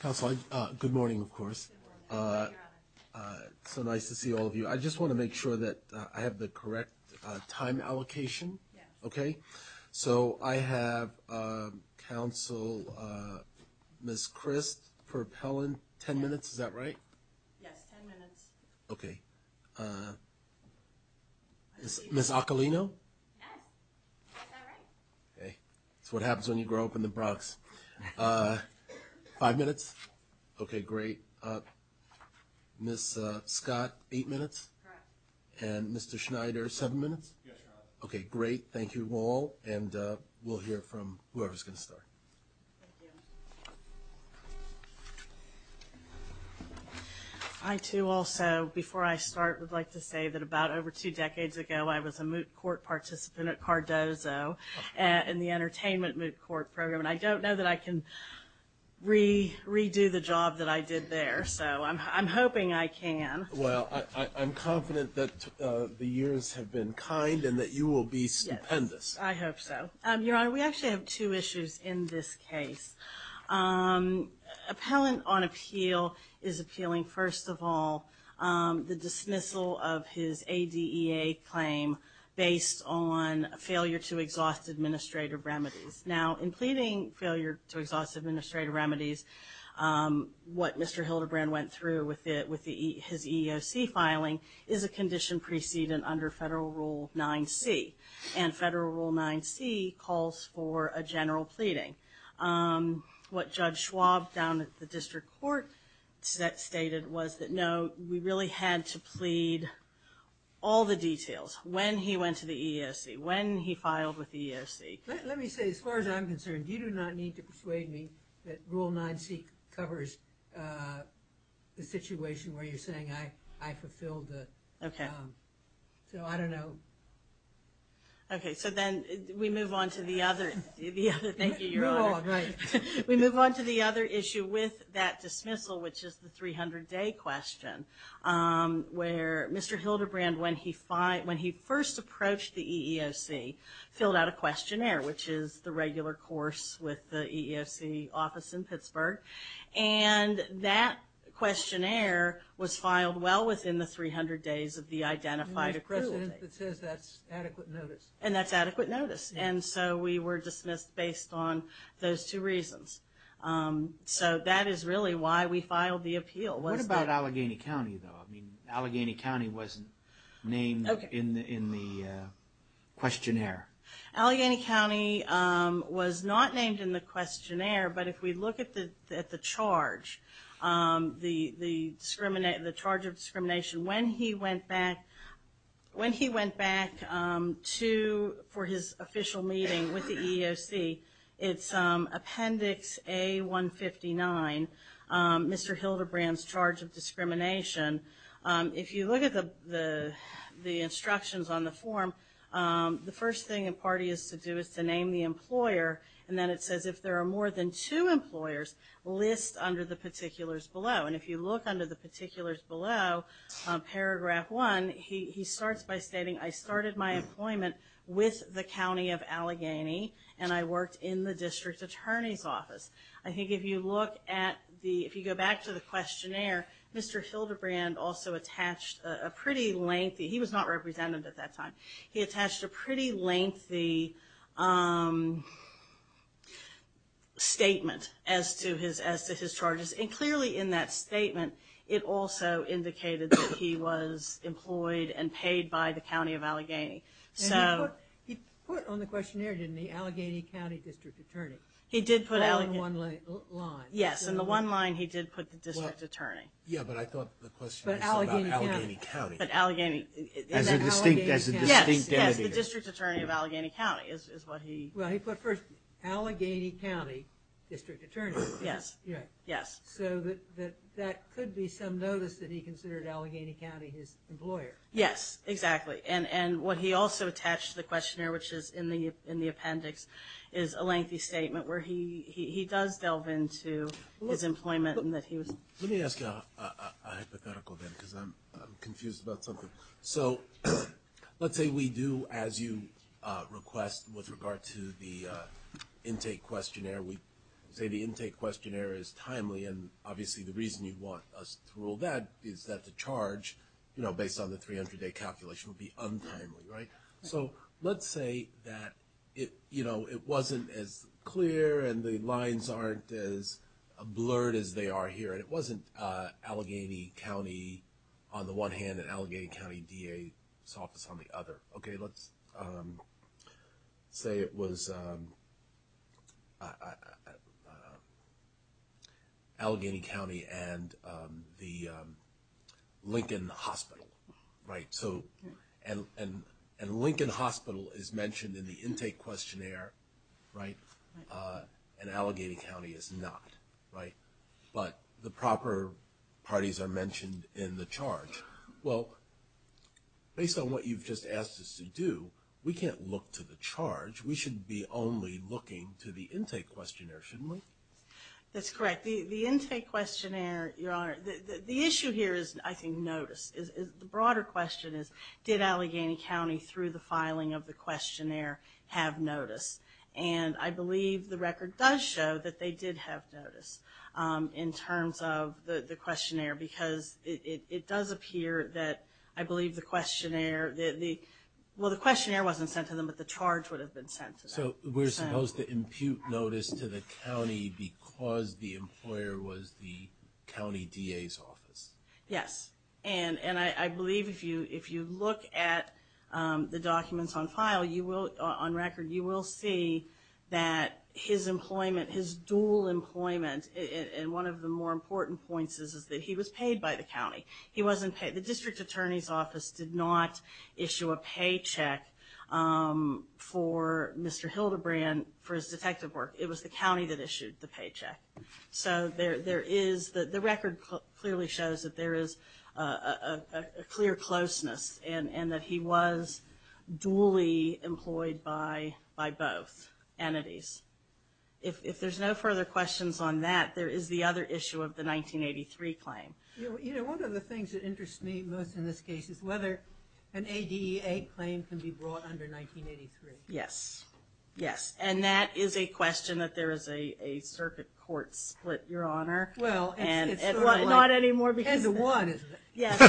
Council, good morning, of course. So nice to see all of you. I just want to make sure that I have the correct time allocation, okay? So I have Council, Ms. Christ-Perpellin, 10 minutes, is that right? Yes, 10 minutes. Okay. Ms. Occolino? Yes. Is that right? Okay. That's what happens when you grow up in the Bronx. Five minutes? Okay, great. Ms. Scott, eight minutes? Correct. And Mr. Schneider, seven minutes? Yes. Okay, great. Thank you all. And we'll hear from whoever's going to start. Thank you. I, too, also, before I start, would like to say that about over two decades ago, I was a moot court participant at Cardozo in the entertainment moot court program, and I don't know that I can redo the job that I did there, so I'm hoping I can. Well, I'm confident that the years have been kind and that you will be stupendous. I hope so. Your Honor, we actually have two issues in this case. Appellant on appeal is appealing, first of all, the dismissal of his ADEA claim based on failure to exhaust administrative remedies. Now, in pleading failure to exhaust administrative remedies, what Mr. Hildebrand went through with his EEOC filing is a condition precedent under Federal Rule 9c. And Federal Rule 9c calls for a general pleading. What Judge Schwab down at the district court stated was that, no, we really had to plead all the details, when he went to the EEOC, when he filed with the EEOC. Let me say, as far as I'm concerned, you do not need to persuade me that Rule 9c covers the situation where you're saying I fulfilled the... Okay. So, I don't know. Okay. So, then we move on to the other issue with that dismissal, which is the 300-day question, where Mr. Hildebrand, when he first approached the EEOC, filled out a questionnaire, which is the regular course with the EEOC office in Pittsburgh. And that questionnaire was filed well within the 300 days of the identified appeal. It says that's adequate notice. And that's adequate notice. And so, we were dismissed based on those two reasons. So, that is really why we filed the appeal. What about Allegheny County, though? I mean, Allegheny County wasn't named in the questionnaire. Allegheny County was not named in the questionnaire. But if we look at the charge, the charge of discrimination, when he went back for his official meeting with the EEOC, it's Appendix A-159, Mr. Hildebrand's charge of discrimination. If you look at the instructions on the form, the first thing a party is to do is to name the employer, and then it says if there are more than two employers, list under the particulars below. And if you look under the particulars below, Paragraph 1, he starts by stating, I started my employment with the County of Allegheny, and I worked in the District Attorney's Office. I think if you look at the, if you go back to the questionnaire, Mr. Hildebrand also attached a pretty lengthy, he was not represented at that time, he attached a pretty lengthy statement as to his charges. And clearly in that statement, it also indicated that he was employed and paid by the County of Allegheny. And he put on the questionnaire, didn't he, Allegheny County District Attorney. He did put Allegheny. All in one line. Yes, in the one line he did put the District Attorney. Yeah, but I thought the question was about Allegheny County. But Allegheny. As a distinct entity. Yes, yes, the District Attorney of Allegheny County is what he. Well, he put first, Allegheny County District Attorney. Yes. Yes. So that could be some notice that he considered Allegheny County his employer. Yes, exactly. And what he also attached to the questionnaire, which is in the appendix, is a lengthy statement where he does delve into his employment and that he was. Let me ask you a hypothetical then, because I'm confused about something. So let's say we do, as you request, with regard to the intake questionnaire, we say the intake questionnaire is timely, and obviously the reason you'd want us to rule that is that the charge, you know, based on the 300-day calculation would be untimely, right? So let's say that it, you know, it wasn't as clear and the lines aren't as blurred as they are here. And it wasn't Allegheny County on the one hand and Allegheny County DA's office on the other. Okay, let's say it was Allegheny County and the Lincoln Hospital, right? So and Lincoln Hospital is mentioned in the intake questionnaire, right? And Allegheny County is not, right? But the proper parties are mentioned in the charge. Well, based on what you've just asked us to do, we can't look to the charge. We should be only looking to the intake questionnaire, shouldn't we? That's correct. The intake questionnaire, Your Honor, the issue here is, I think, notice. The broader question is, did Allegheny County, through the filing of the questionnaire, have notice? And I believe the record does show that they did have notice in terms of the questionnaire, because it does appear that, I believe, the questionnaire, well, the questionnaire wasn't sent to them, but the charge would have been sent to them. So we're supposed to impute notice to the county because the employer was the county DA's office? Yes. And I believe if you look at the documents on file, you will, on record, you will see that his employment, his dual employment, and one of the more important points is that he was paid by the county. He wasn't paid. The district attorney's office did not issue a paycheck for Mr. Hildebrand for his detective work. It was the county that issued the paycheck. So there is, the record clearly shows that there is a clear closeness and that he was dually employed by both entities. If there's no further questions on that, there is the other issue of the 1983 claim. You know, one of the things that interests me most in this case is whether an ADEA claim can be brought under 1983. Yes. Yes. And that is a question that there is a circuit court split, Your Honor. Well, it's sort of like, ten to one, isn't it? Yes.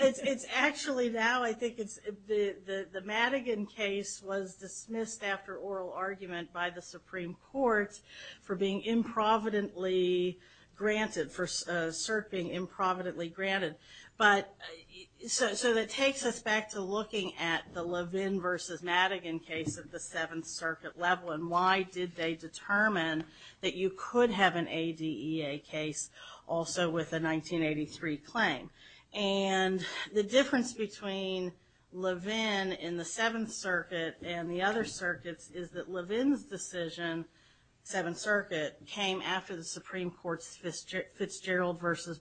It's actually now, I think it's, the Madigan case was dismissed after oral argument by the Supreme Court for being improvidently granted, for cert being improvidently granted. But, so that takes us back to looking at the Levin versus Madigan case at the Seventh Circuit level and why did they determine that you could have an ADEA case also with a 1983 claim. And the difference between Levin and the Seventh Circuit and the other circuits is that Levin's decision, Seventh Circuit, came after the Supreme Court's Fitzgerald versus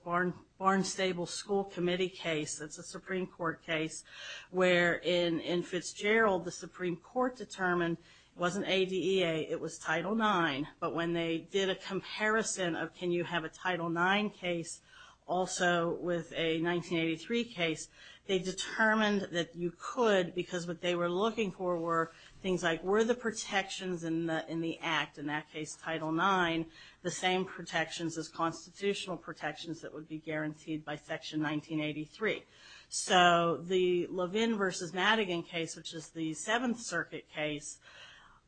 Barnstable School Committee case, that's a Supreme Court case, where in Fitzgerald the Supreme Court determined it wasn't ADEA, it was Title IX. But when they did a comparison of can you have a Title IX case also with a 1983 case, they determined that you could because what they were looking for were things like, were the protections in the Act, in that case Title IX, the same protections as constitutional protections that would be guaranteed by Section 1983. So the Levin versus Madigan case, which is the Seventh Circuit case,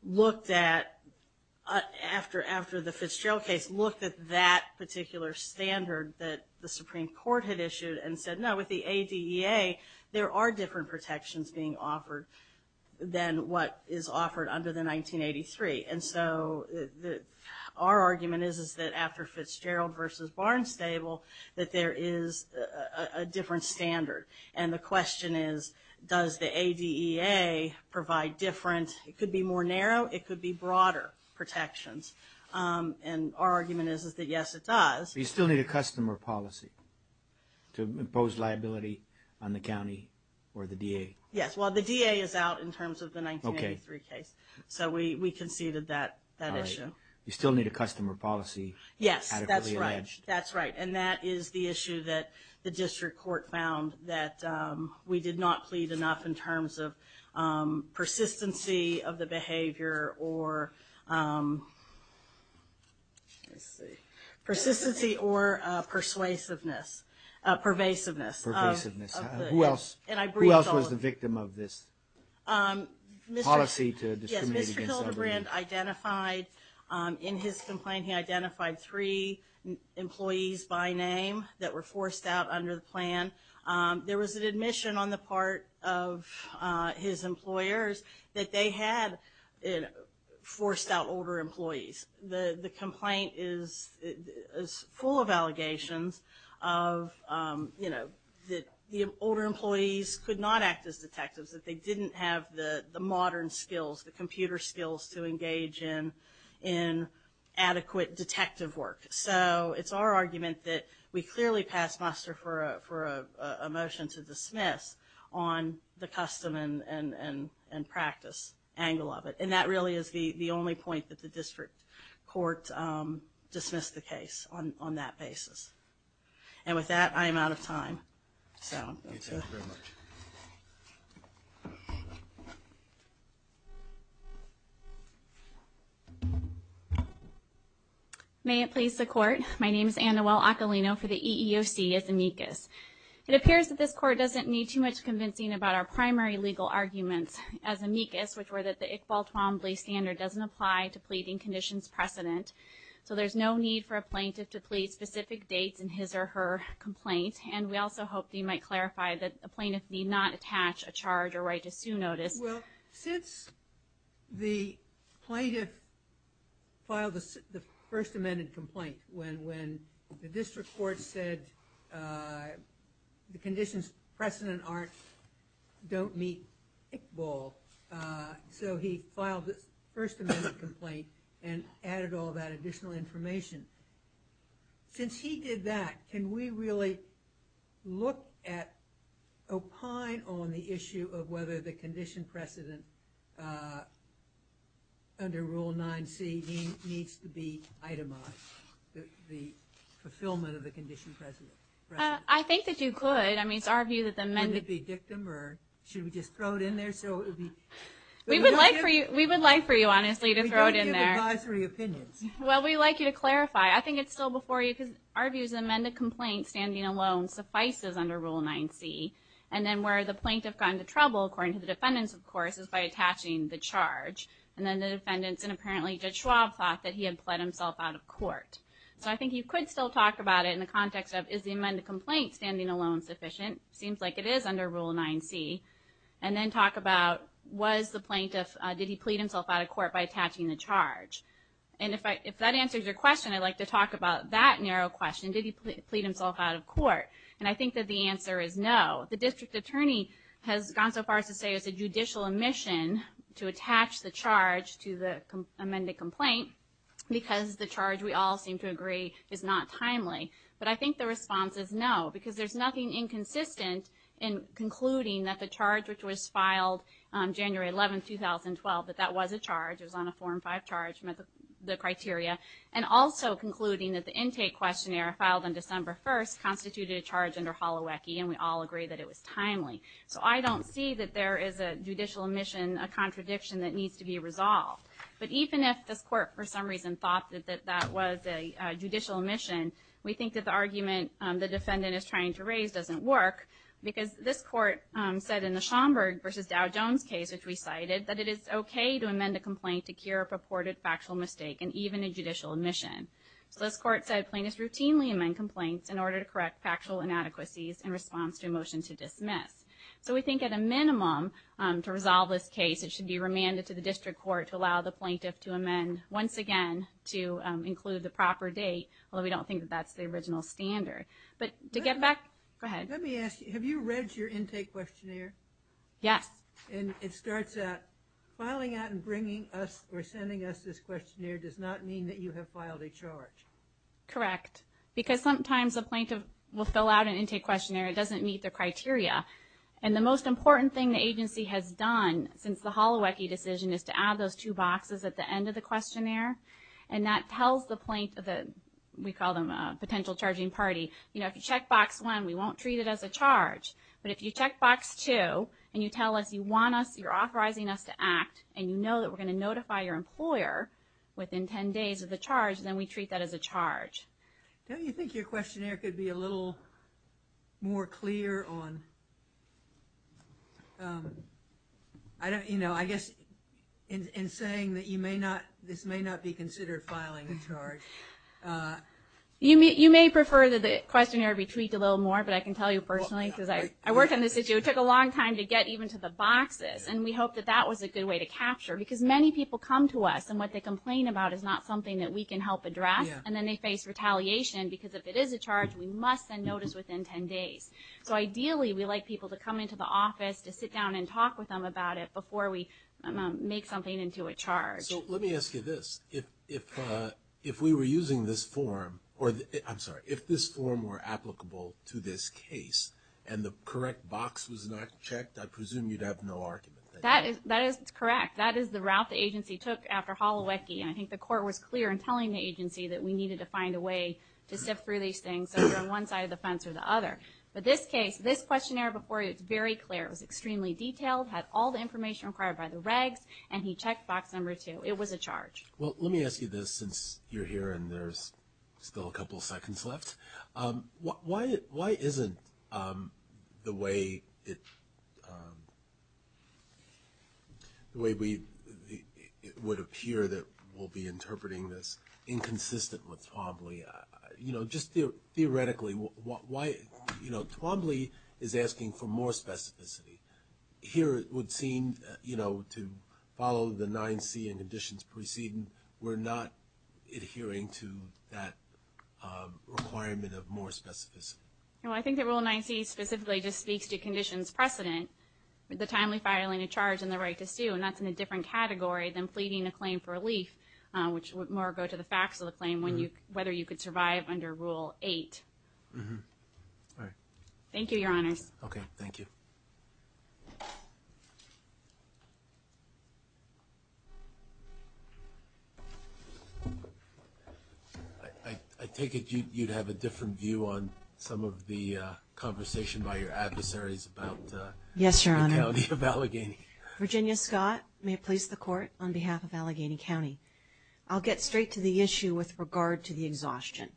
looked at, after the Fitzgerald case, looked at that particular standard that the Supreme Court had issued and said, no, with the ADEA there are different protections being offered than what is offered under the 1983. And so our argument is that after Fitzgerald versus Barnstable, that there is a different standard. And the question is, does the ADEA provide different, it could be more narrow, it could be broader protections. And our argument is that yes, it does. But you still need a customer policy to impose liability on the county or the DA. Yes, well, the DA is out in terms of the 1983 case. So we conceded that issue. You still need a customer policy. Yes, that's right, that's right. And that is the issue that the district court found that we did not plead enough in terms of persistency of the behavior or, let's see, persistency or persuasiveness, pervasiveness. Who else was the victim of this policy to discriminate against elderly people? Yes, Mr. Hildebrand identified in his complaint, he identified three employees by name that were forced out under the plan. There was an admission on the part of his employers that they had forced out older employees. The complaint is full of allegations of, you know, that the older employees could not act as detectives, that they didn't have the modern skills, the computer skills to engage in adequate detective work. So it's our argument that we clearly pass muster for a motion to dismiss on the custom and practice angle of it. And that really is the only point that the district court dismissed the case on that basis. And with that, I am out of time. Thank you very much. May it please the Court. My name is Anna Well-Occolino for the EEOC as amicus. It appears that this Court doesn't need too much convincing about our primary legal arguments as amicus, which were that the Iqbal-Twamblee standard doesn't apply to pleading conditions precedent. So there's no need for a plaintiff to plead specific dates in his or her complaint. And we also hope that you might clarify that a plaintiff need not attach a charge or right to sue notice. Well, since the plaintiff filed the first amended complaint, when the district court said the conditions precedent don't meet Iqbal, so he filed the first amended complaint and added all that additional information. Since he did that, can we really look at opine on the issue of whether the condition precedent under Rule 9c needs to be itemized, the fulfillment of the condition precedent? I think that you could. I mean, it's our view that the amended... Should it be dictum or should we just throw it in there so it would be... We would like for you, honestly, to throw it in there. We don't give advisory opinions. Well, we'd like you to clarify. I think it's still before you because our view is the amended complaint standing alone suffices under Rule 9c. And then where the plaintiff got into trouble, according to the defendants, of course, is by attaching the charge. And then the defendants and apparently Judge Schwab thought that he had pled himself out of court. So I think you could still talk about it in the context of, is the amended complaint standing alone sufficient? It seems like it is under Rule 9c. And then talk about, was the plaintiff... Did he plead himself out of court by attaching the charge? And if that answers your question, I'd like to talk about that narrow question. Did he plead himself out of court? And I think that the answer is no. The district attorney has gone so far as to say it's a judicial omission to attach the charge to the amended complaint because the charge, we all seem to agree, is not timely. But I think the response is no because there's nothing inconsistent in concluding that the charge which was filed January 11, 2012, that that was a charge, it was on a Form 5 charge met the criteria. And also concluding that the intake questionnaire filed on December 1st constituted a charge under Holowecki, and we all agree that it was timely. So I don't see that there is a judicial omission, a contradiction that needs to be resolved. But even if this court, for some reason, thought that that was a judicial omission, we think that the argument the defendant is trying to raise doesn't work because this court said in the Schomburg versus Dow Jones case, which we cited, that it is okay to amend a complaint to cure a purported factual mistake and even a judicial omission. So this court said plaintiffs routinely amend complaints in order to correct factual inadequacies in response to a motion to dismiss. So we think at a minimum, to resolve this case, it should be remanded to the district court to allow the plaintiff to amend once again to include the proper date, although we don't think that that's the original standard. But to get back... Go ahead. Let me ask you. Have you read your intake questionnaire? Yes. And it starts out, filing out and bringing us or sending us this questionnaire does not mean that you have filed a charge. Correct. Because sometimes a plaintiff will fill out an intake questionnaire. It doesn't meet their criteria. And the most important thing the agency has done since the Holowecki decision is to add those two boxes at the end of the questionnaire. And that tells the plaintiff, we call them a potential charging party, you know, if you check box one, we won't treat it as a charge. But if you check box two and you tell us you want us, you're authorizing us to act and you know that we're going to notify your employer within 10 days of the charge, then we treat that as a charge. Don't you think your questionnaire could be a little more clear on, I don't, you know, I guess in saying that you may not, this may not be considered filing a charge. You may prefer that the questionnaire be tweaked a little more, but I can tell you personally because I worked on this issue, it took a long time to get even to the boxes. And we hope that that was a good way to capture because many people come to us and what they complain about is not something that we can help address. And then they face retaliation because if it is a charge, we must send notice within 10 days. So ideally, we like people to come into the office to sit down and talk with them about it before we make something into a charge. So let me ask you this. If we were using this form, or I'm sorry, if this form were applicable to this case and the correct box was not checked, I presume you'd have no argument. That is correct. That is the route the agency took after Holowetki. And I think the court was clear in telling the agency that we needed to find a way to sift through these things over on one side of the fence or the other. But this case, this questionnaire before you, it's very clear. It was extremely detailed, had all the information required by the regs, and he checked box number two. It was a charge. Well, let me ask you this since you're here and there's still a couple seconds left. Why isn't the way it would appear that we'll be interpreting this inconsistent with Twombly? Just theoretically, why – Twombly is asking for more specificity. Here it would seem to follow the 9C and conditions preceding, we're not adhering to that requirement of more specificity. Well, I think that Rule 9C specifically just speaks to conditions precedent, the timely filing of charge and the right to sue, and that's in a different category than pleading a claim for relief, which would more go to the facts of the claim, whether you could survive under Rule 8. All right. Thank you, Your Honors. Okay. Thank you. I take it you'd have a different view on some of the conversation by your adversaries about the county of Allegheny. Yes, Your Honor. Virginia Scott, may it please the Court, on behalf of Allegheny County. I'll get straight to the issue with regard to the exhaustion.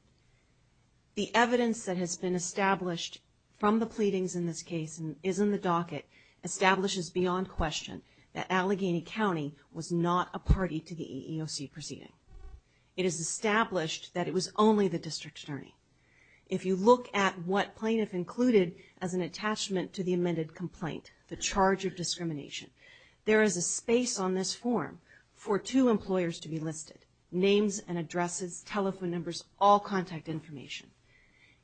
The evidence that has been established from the pleadings in this case and is in the docket establishes beyond question that Allegheny County was not a party to the EEOC proceeding. It is established that it was only the district attorney. If you look at what plaintiff included as an attachment to the amended complaint, the charge of discrimination, there is a space on this form for two employers to be listed. Names and addresses, telephone numbers, all contact information.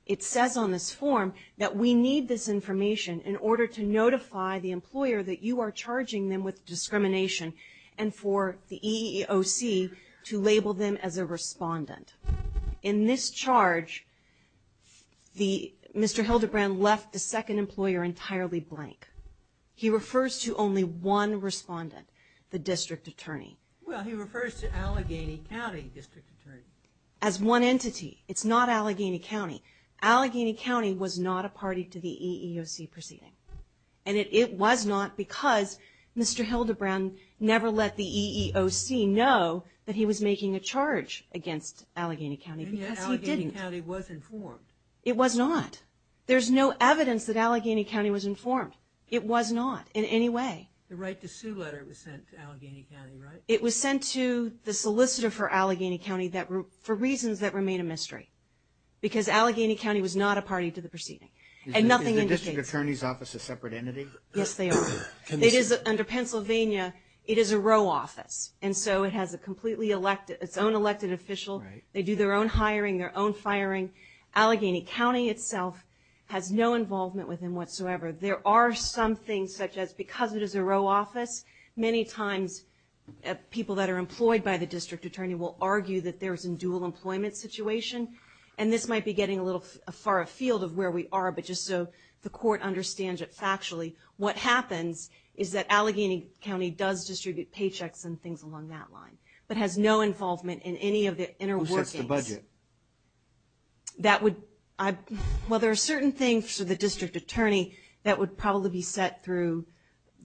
It says on this form that we need this information in order to notify the employer that you are charging them with discrimination and for the EEOC to label them as a respondent. In this charge, Mr. Hildebrand left the second employer entirely blank. He refers to only one respondent, the district attorney. Well, he refers to Allegheny County district attorney. As one entity. It's not Allegheny County. Allegheny County was not a party to the EEOC proceeding. And it was not because Mr. Hildebrand never let the EEOC know that he was making a charge against Allegheny County because he didn't. And yet Allegheny County was informed. It was not. There's no evidence that Allegheny County was informed. It was not in any way. The right to sue letter was sent to Allegheny County, right? It was sent to the solicitor for Allegheny County for reasons that remain a mystery. Because Allegheny County was not a party to the proceeding. And nothing indicates. Is the district attorney's office a separate entity? Yes, they are. It is under Pennsylvania. It is a row office. And so it has a completely elected, its own elected official. They do their own hiring, their own firing. Allegheny County itself has no involvement with them whatsoever. There are some things such as, because it is a row office, many times people that are employed by the district attorney will argue that there's a dual employment situation. And this might be getting a little far afield of where we are, but just so the court understands it factually, what happens is that Allegheny County does distribute paychecks and things along that line. But has no involvement in any of the inner workings. Who sets the budget? That would, well there are certain things for the district attorney that would probably be set through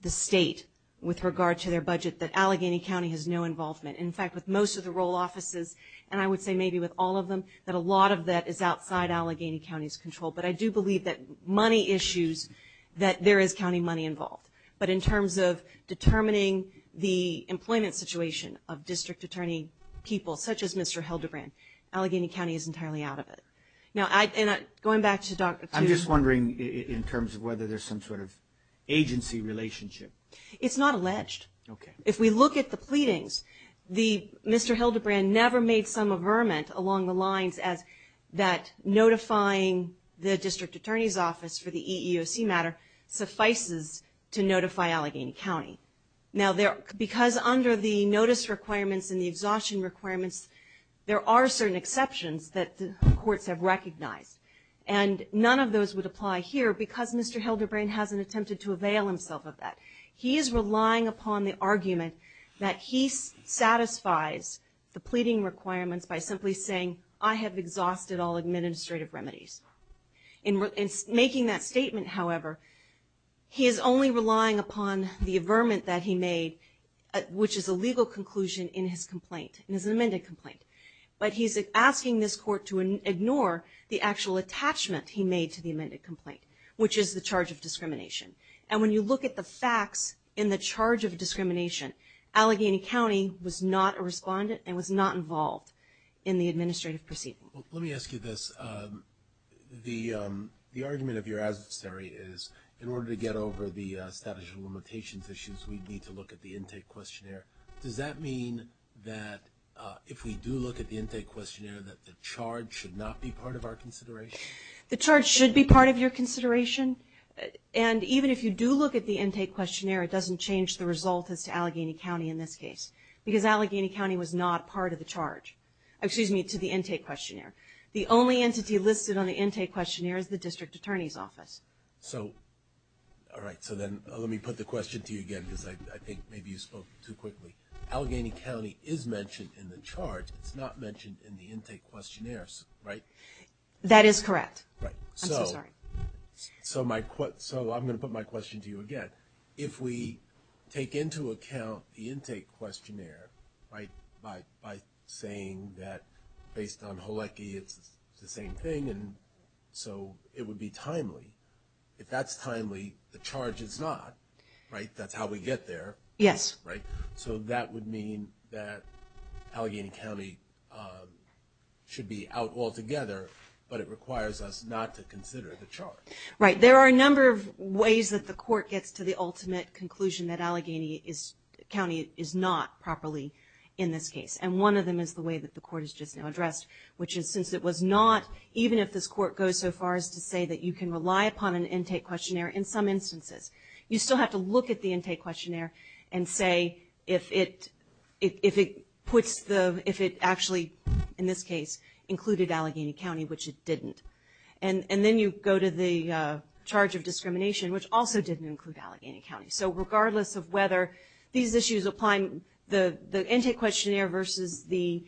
the state with regard to their budget that Allegheny County has no involvement. In fact, with most of the row offices, and I would say maybe with all of them, that a lot of that is outside Allegheny County's control. But I do believe that money issues, that there is county money involved. But in terms of determining the employment situation of district attorney people, such as Mr. Hildebrand, Allegheny County is entirely out of it. Now going back to Dr. Tudor. I'm just wondering in terms of whether there's some sort of agency relationship. It's not alleged. If we look at the pleadings, Mr. Hildebrand never made some averment along the lines as that notifying the district attorney's office for the EEOC matter suffices to notify Allegheny County. Now because under the notice requirements and the exhaustion requirements, there are certain exceptions that the courts have recognized. And none of those would apply here because Mr. Hildebrand hasn't attempted to avail himself of that. He is relying upon the argument that he satisfies the pleading requirements by simply saying, I have exhausted all administrative remedies. In making that statement, however, he is only relying upon the averment that he made, which is a legal conclusion in his complaint, in his amended complaint. But he's asking this court to ignore the actual attachment he made to the amended complaint, which is the charge of discrimination. And when you look at the facts in the charge of discrimination, Allegheny County was not a respondent and was not involved in the administrative proceedings. Let me ask you this. The argument of your adversary is, in order to get over the status of limitations issues, we need to look at the intake questionnaire. Does that mean that if we do look at the intake questionnaire, that the charge should not be part of our consideration? The charge should be part of your consideration. And even if you do look at the intake questionnaire, it doesn't change the result as to Allegheny County in this case, because Allegheny County was not part of the charge, excuse me, to the intake questionnaire. The only entity listed on the intake questionnaire is the District Attorney's Office. So all right, so then let me put the question to you again, because I think maybe you spoke too quickly. Allegheny County is mentioned in the charge. It's not mentioned in the intake questionnaires, right? That is correct. Right. I'm so sorry. So I'm going to put my question to you again. If we take into account the intake questionnaire, right, by saying that based on Halecki, it's the same thing, and so it would be timely, if that's timely, the charge is not, right? That's how we get there. Yes. Right? So that would mean that Allegheny County should be out altogether, but it requires us not to consider the charge. Right. There are a number of ways that the court gets to the ultimate conclusion that Allegheny County is not properly in this case, and one of them is the way that the court has just now addressed, which is since it was not, even if this court goes so far as to say that you can rely upon an intake questionnaire in some instances, you still have to look at the intake questionnaire and say if it actually, in this case, included Allegheny County, which it didn't. And then you go to the charge of discrimination, which also didn't include Allegheny County. So regardless of whether these issues apply, the intake questionnaire versus the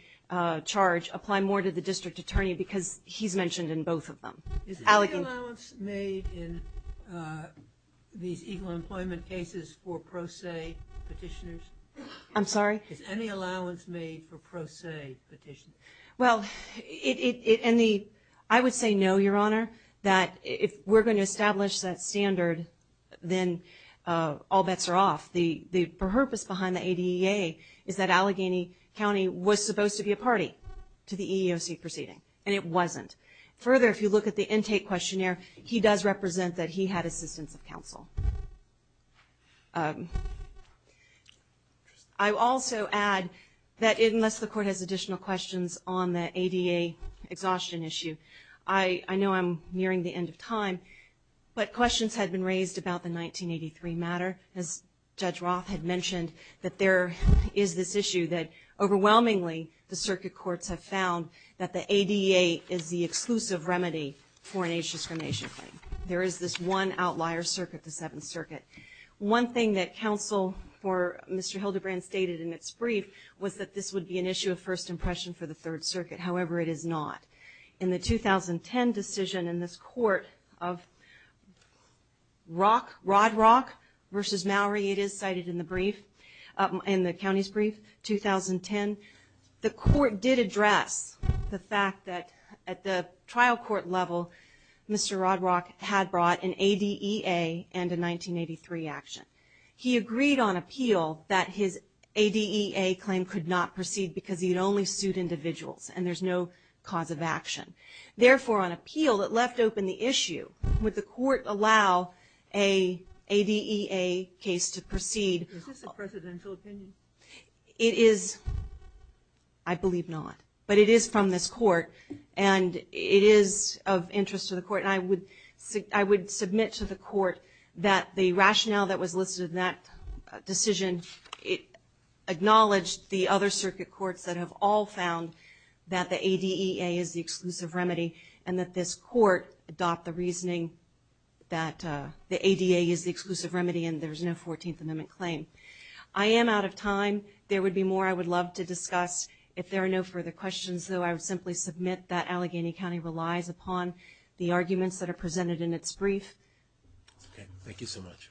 charge apply more to the district attorney because he's mentioned in both of them. Is any allowance made in these equal employment cases for pro se petitioners? I'm sorry? Is any allowance made for pro se petitioners? Well, I would say no, Your Honor, that if we're going to establish that standard, then all bets are off. The purpose behind the ADEA is that Allegheny County was supposed to be a party to the EEOC proceeding, and it wasn't. Further, if you look at the intake questionnaire, he does represent that he had assistance of counsel. I would also add that unless the court has additional questions on the ADEA exhaustion issue, I know I'm nearing the end of time, but questions had been raised about the 1983 matter. As Judge Roth had mentioned, that there is this issue that overwhelmingly the circuit courts have found that the ADEA is the exclusive remedy for an age discrimination claim. There is this one outlier circuit, the Seventh Circuit. One thing that counsel for Mr. Hildebrand stated in its brief was that this would be an issue of first impression for the Third Circuit. However, it is not. In the 2010 decision in this court of Rock, Rod Rock versus Mallory, it is cited in the brief, in the county's brief, 2010, the court did address the fact that at the trial court level, Mr. Rod Rock had brought an ADEA and a 1983 action. He agreed on appeal that his ADEA claim could not proceed because he'd only suit individuals, and there's no cause of action. Therefore, on appeal, it left open the issue, would the court allow an ADEA case to proceed? Is this a presidential opinion? It is, I believe not. But it is from this court, and it is of interest to the court, and I would submit to the court that the rationale that was listed in that decision acknowledged the other circuit courts that have all found that the ADEA is the exclusive remedy, and that this court adopt the reasoning that the ADEA is the exclusive remedy and there's no 14th Amendment claim. I am out of time. There would be more I would love to discuss. If there are no further questions, though, I would simply submit that Allegheny County relies upon the arguments that are presented in its brief. Okay. Thank you so much.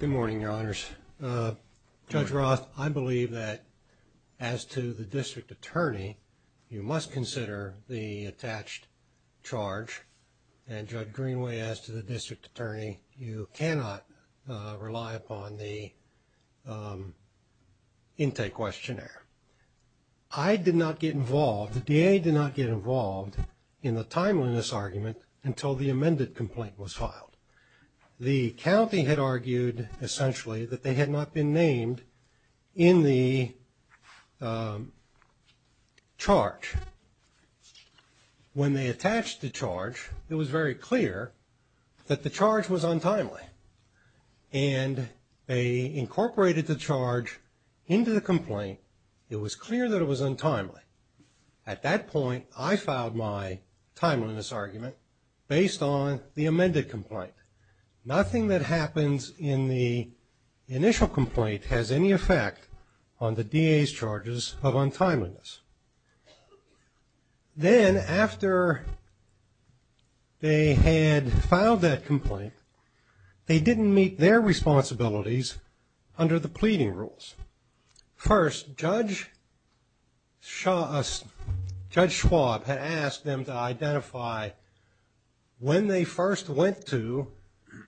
Good morning, Your Honors. Judge Roth, I believe that as to the district attorney, you must consider the attached charge and Judge Greenway, as to the district attorney, you cannot rely upon the intake questionnaire. I did not get involved, the DA did not get involved in the timeliness argument until the amended complaint was filed. The county had argued, essentially, that they had not been named in the charge. When they attached the charge, it was very clear that the charge was untimely. And they incorporated the charge into the complaint. It was clear that it was untimely. At that point, I filed my timeliness argument based on the amended complaint. Nothing that happens in the initial complaint has any effect on the DA's charges of untimeliness. Then after they had filed that complaint, they didn't meet their responsibilities under the pleading rules. First, Judge Schwab had asked them to identify when they first went to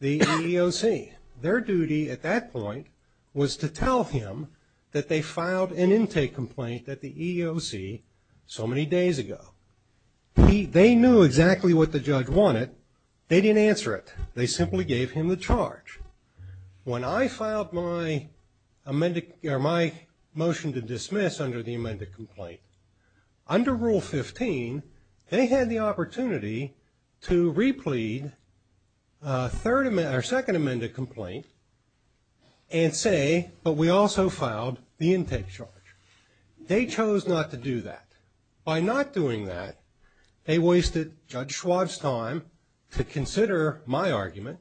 the EEOC. Their duty at that point was to tell him that they filed an intake complaint at the EEOC so many days ago. They knew exactly what the judge wanted, they didn't answer it. They simply gave him the charge. When I filed my motion to dismiss under the amended complaint, under Rule 15, they had the opportunity to replead a second amended complaint and say, but we also filed the intake charge. They chose not to do that. By not doing that, they wasted Judge Schwab's time to consider my argument.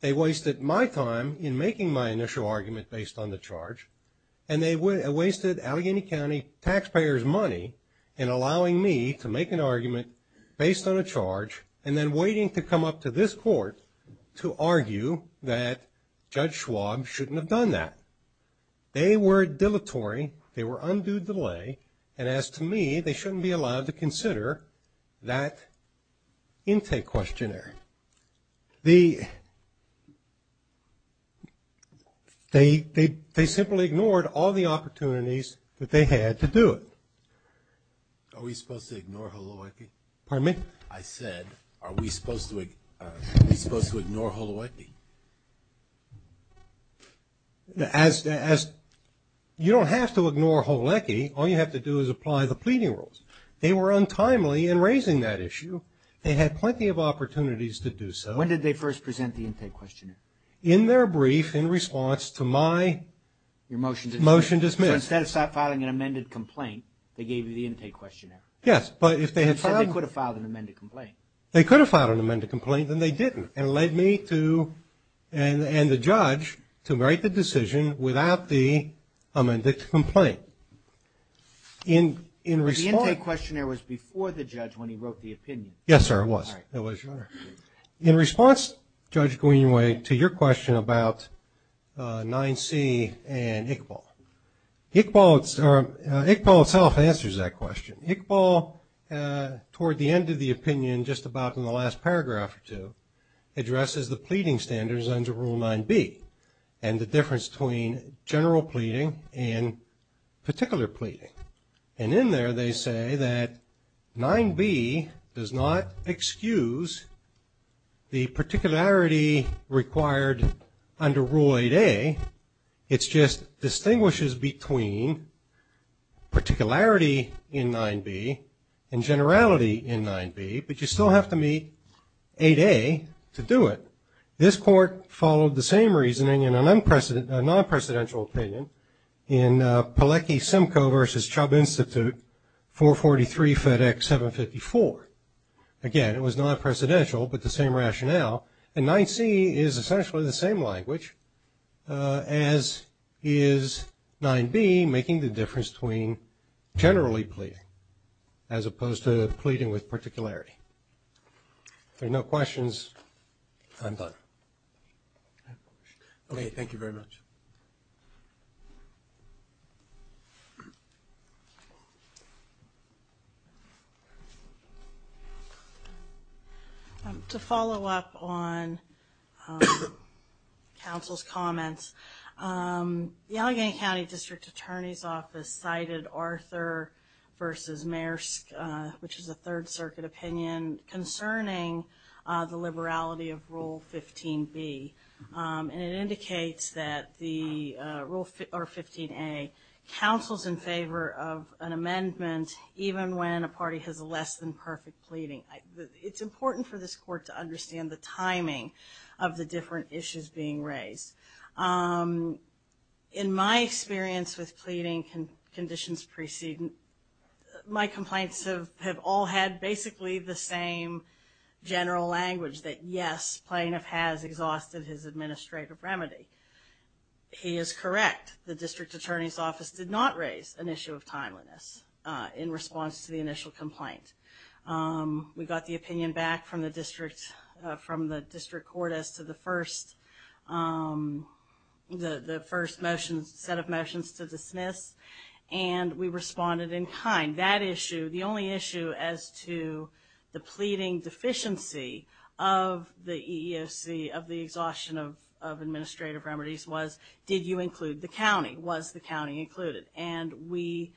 They wasted my time in making my initial argument based on the charge. And they wasted Allegheny County taxpayers' money in allowing me to make an argument based on a charge and then waiting to come up to this court to argue that Judge Schwab shouldn't have done that. They were dilatory, they were undue delay, and as to me, they shouldn't be allowed to consider that intake questionnaire. The, they simply ignored all the opportunities that they had to do it. Are we supposed to ignore Holowecki? Pardon me? I said, are we supposed to ignore Holowecki? As, you don't have to ignore Holowecki, all you have to do is apply the pleading rules. They were untimely in raising that issue. They had plenty of opportunities to do so. When did they first present the intake questionnaire? In their brief in response to my motion dismissed. So instead of filing an amended complaint, they gave you the intake questionnaire? Yes, but if they had filed... They said they could have filed an amended complaint. They could have filed an amended complaint, then they didn't. And it led me to, and the judge, to write the decision without the amended complaint. In response... But the intake questionnaire was before the judge when he wrote the opinion. Yes, sir, it was. All right. It was, Your Honor. In response, Judge Guignoy, to your question about 9C and Iqbal, Iqbal itself answers that question. Iqbal, toward the end of the opinion, just about in the last paragraph or two, addresses the pleading standards under Rule 9B, and the difference between general pleading and particular pleading. And in there they say that 9B does not excuse the particularity required under Rule 8A. It just distinguishes between particularity in 9B and generality in 9B, but you still have to meet 8A to do it. This court followed the same reasoning in a non-precedential opinion in Pilecki-Simcoe v. Chubb Institute 443 FedEx 754. Again, it was non-precedential, but the same rationale. And 9C is essentially the same language as is 9B, making the difference between generally pleading as opposed to pleading with particularity. If there are no questions, I'm done. Okay, thank you very much. To follow up on counsel's comments, the Allegheny County District Attorney's Office cited Arthur v. Maersk, which is a Third Circuit opinion concerning the liberality of Rule 15B. And it indicates that Rule 15A counsels in favor of an amendment even when a party has less than perfect pleading. It's important for this court to understand the timing of the different issues being raised. In my experience with pleading conditions preceding, my complaints have all had basically the same general language, that yes, plaintiff has exhausted his administrative remedy. He is correct. The District Attorney's Office did not raise an issue of timeliness in response to the initial complaint. We got the opinion back from the District Court as to the first set of motions to dismiss, and we responded in kind. That issue, the only issue as to the pleading deficiency of the EEOC, of the exhaustion of administrative remedies was, did you include the county? Was the county included? And we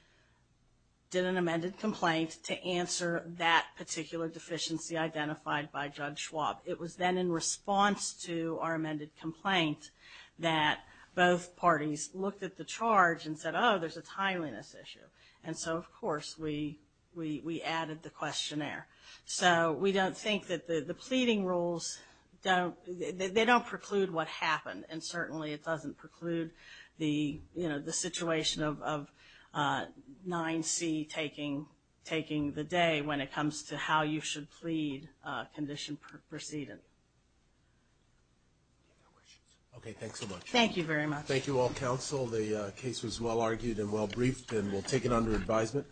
did an amended complaint to answer that particular deficiency identified by Judge Schwab. It was then in response to our amended complaint that both parties looked at the charge and said, oh, there's a timeliness issue. And so, of course, we added the questionnaire. So we don't think that the pleading rules, they don't preclude what happened, and certainly it doesn't preclude the situation of 9C taking the day when it comes to how you should plead condition preceding. Okay, thanks so much. Thank you very much. Thank you all, counsel. The case was well-argued and well-briefed, and we'll take it under advisement.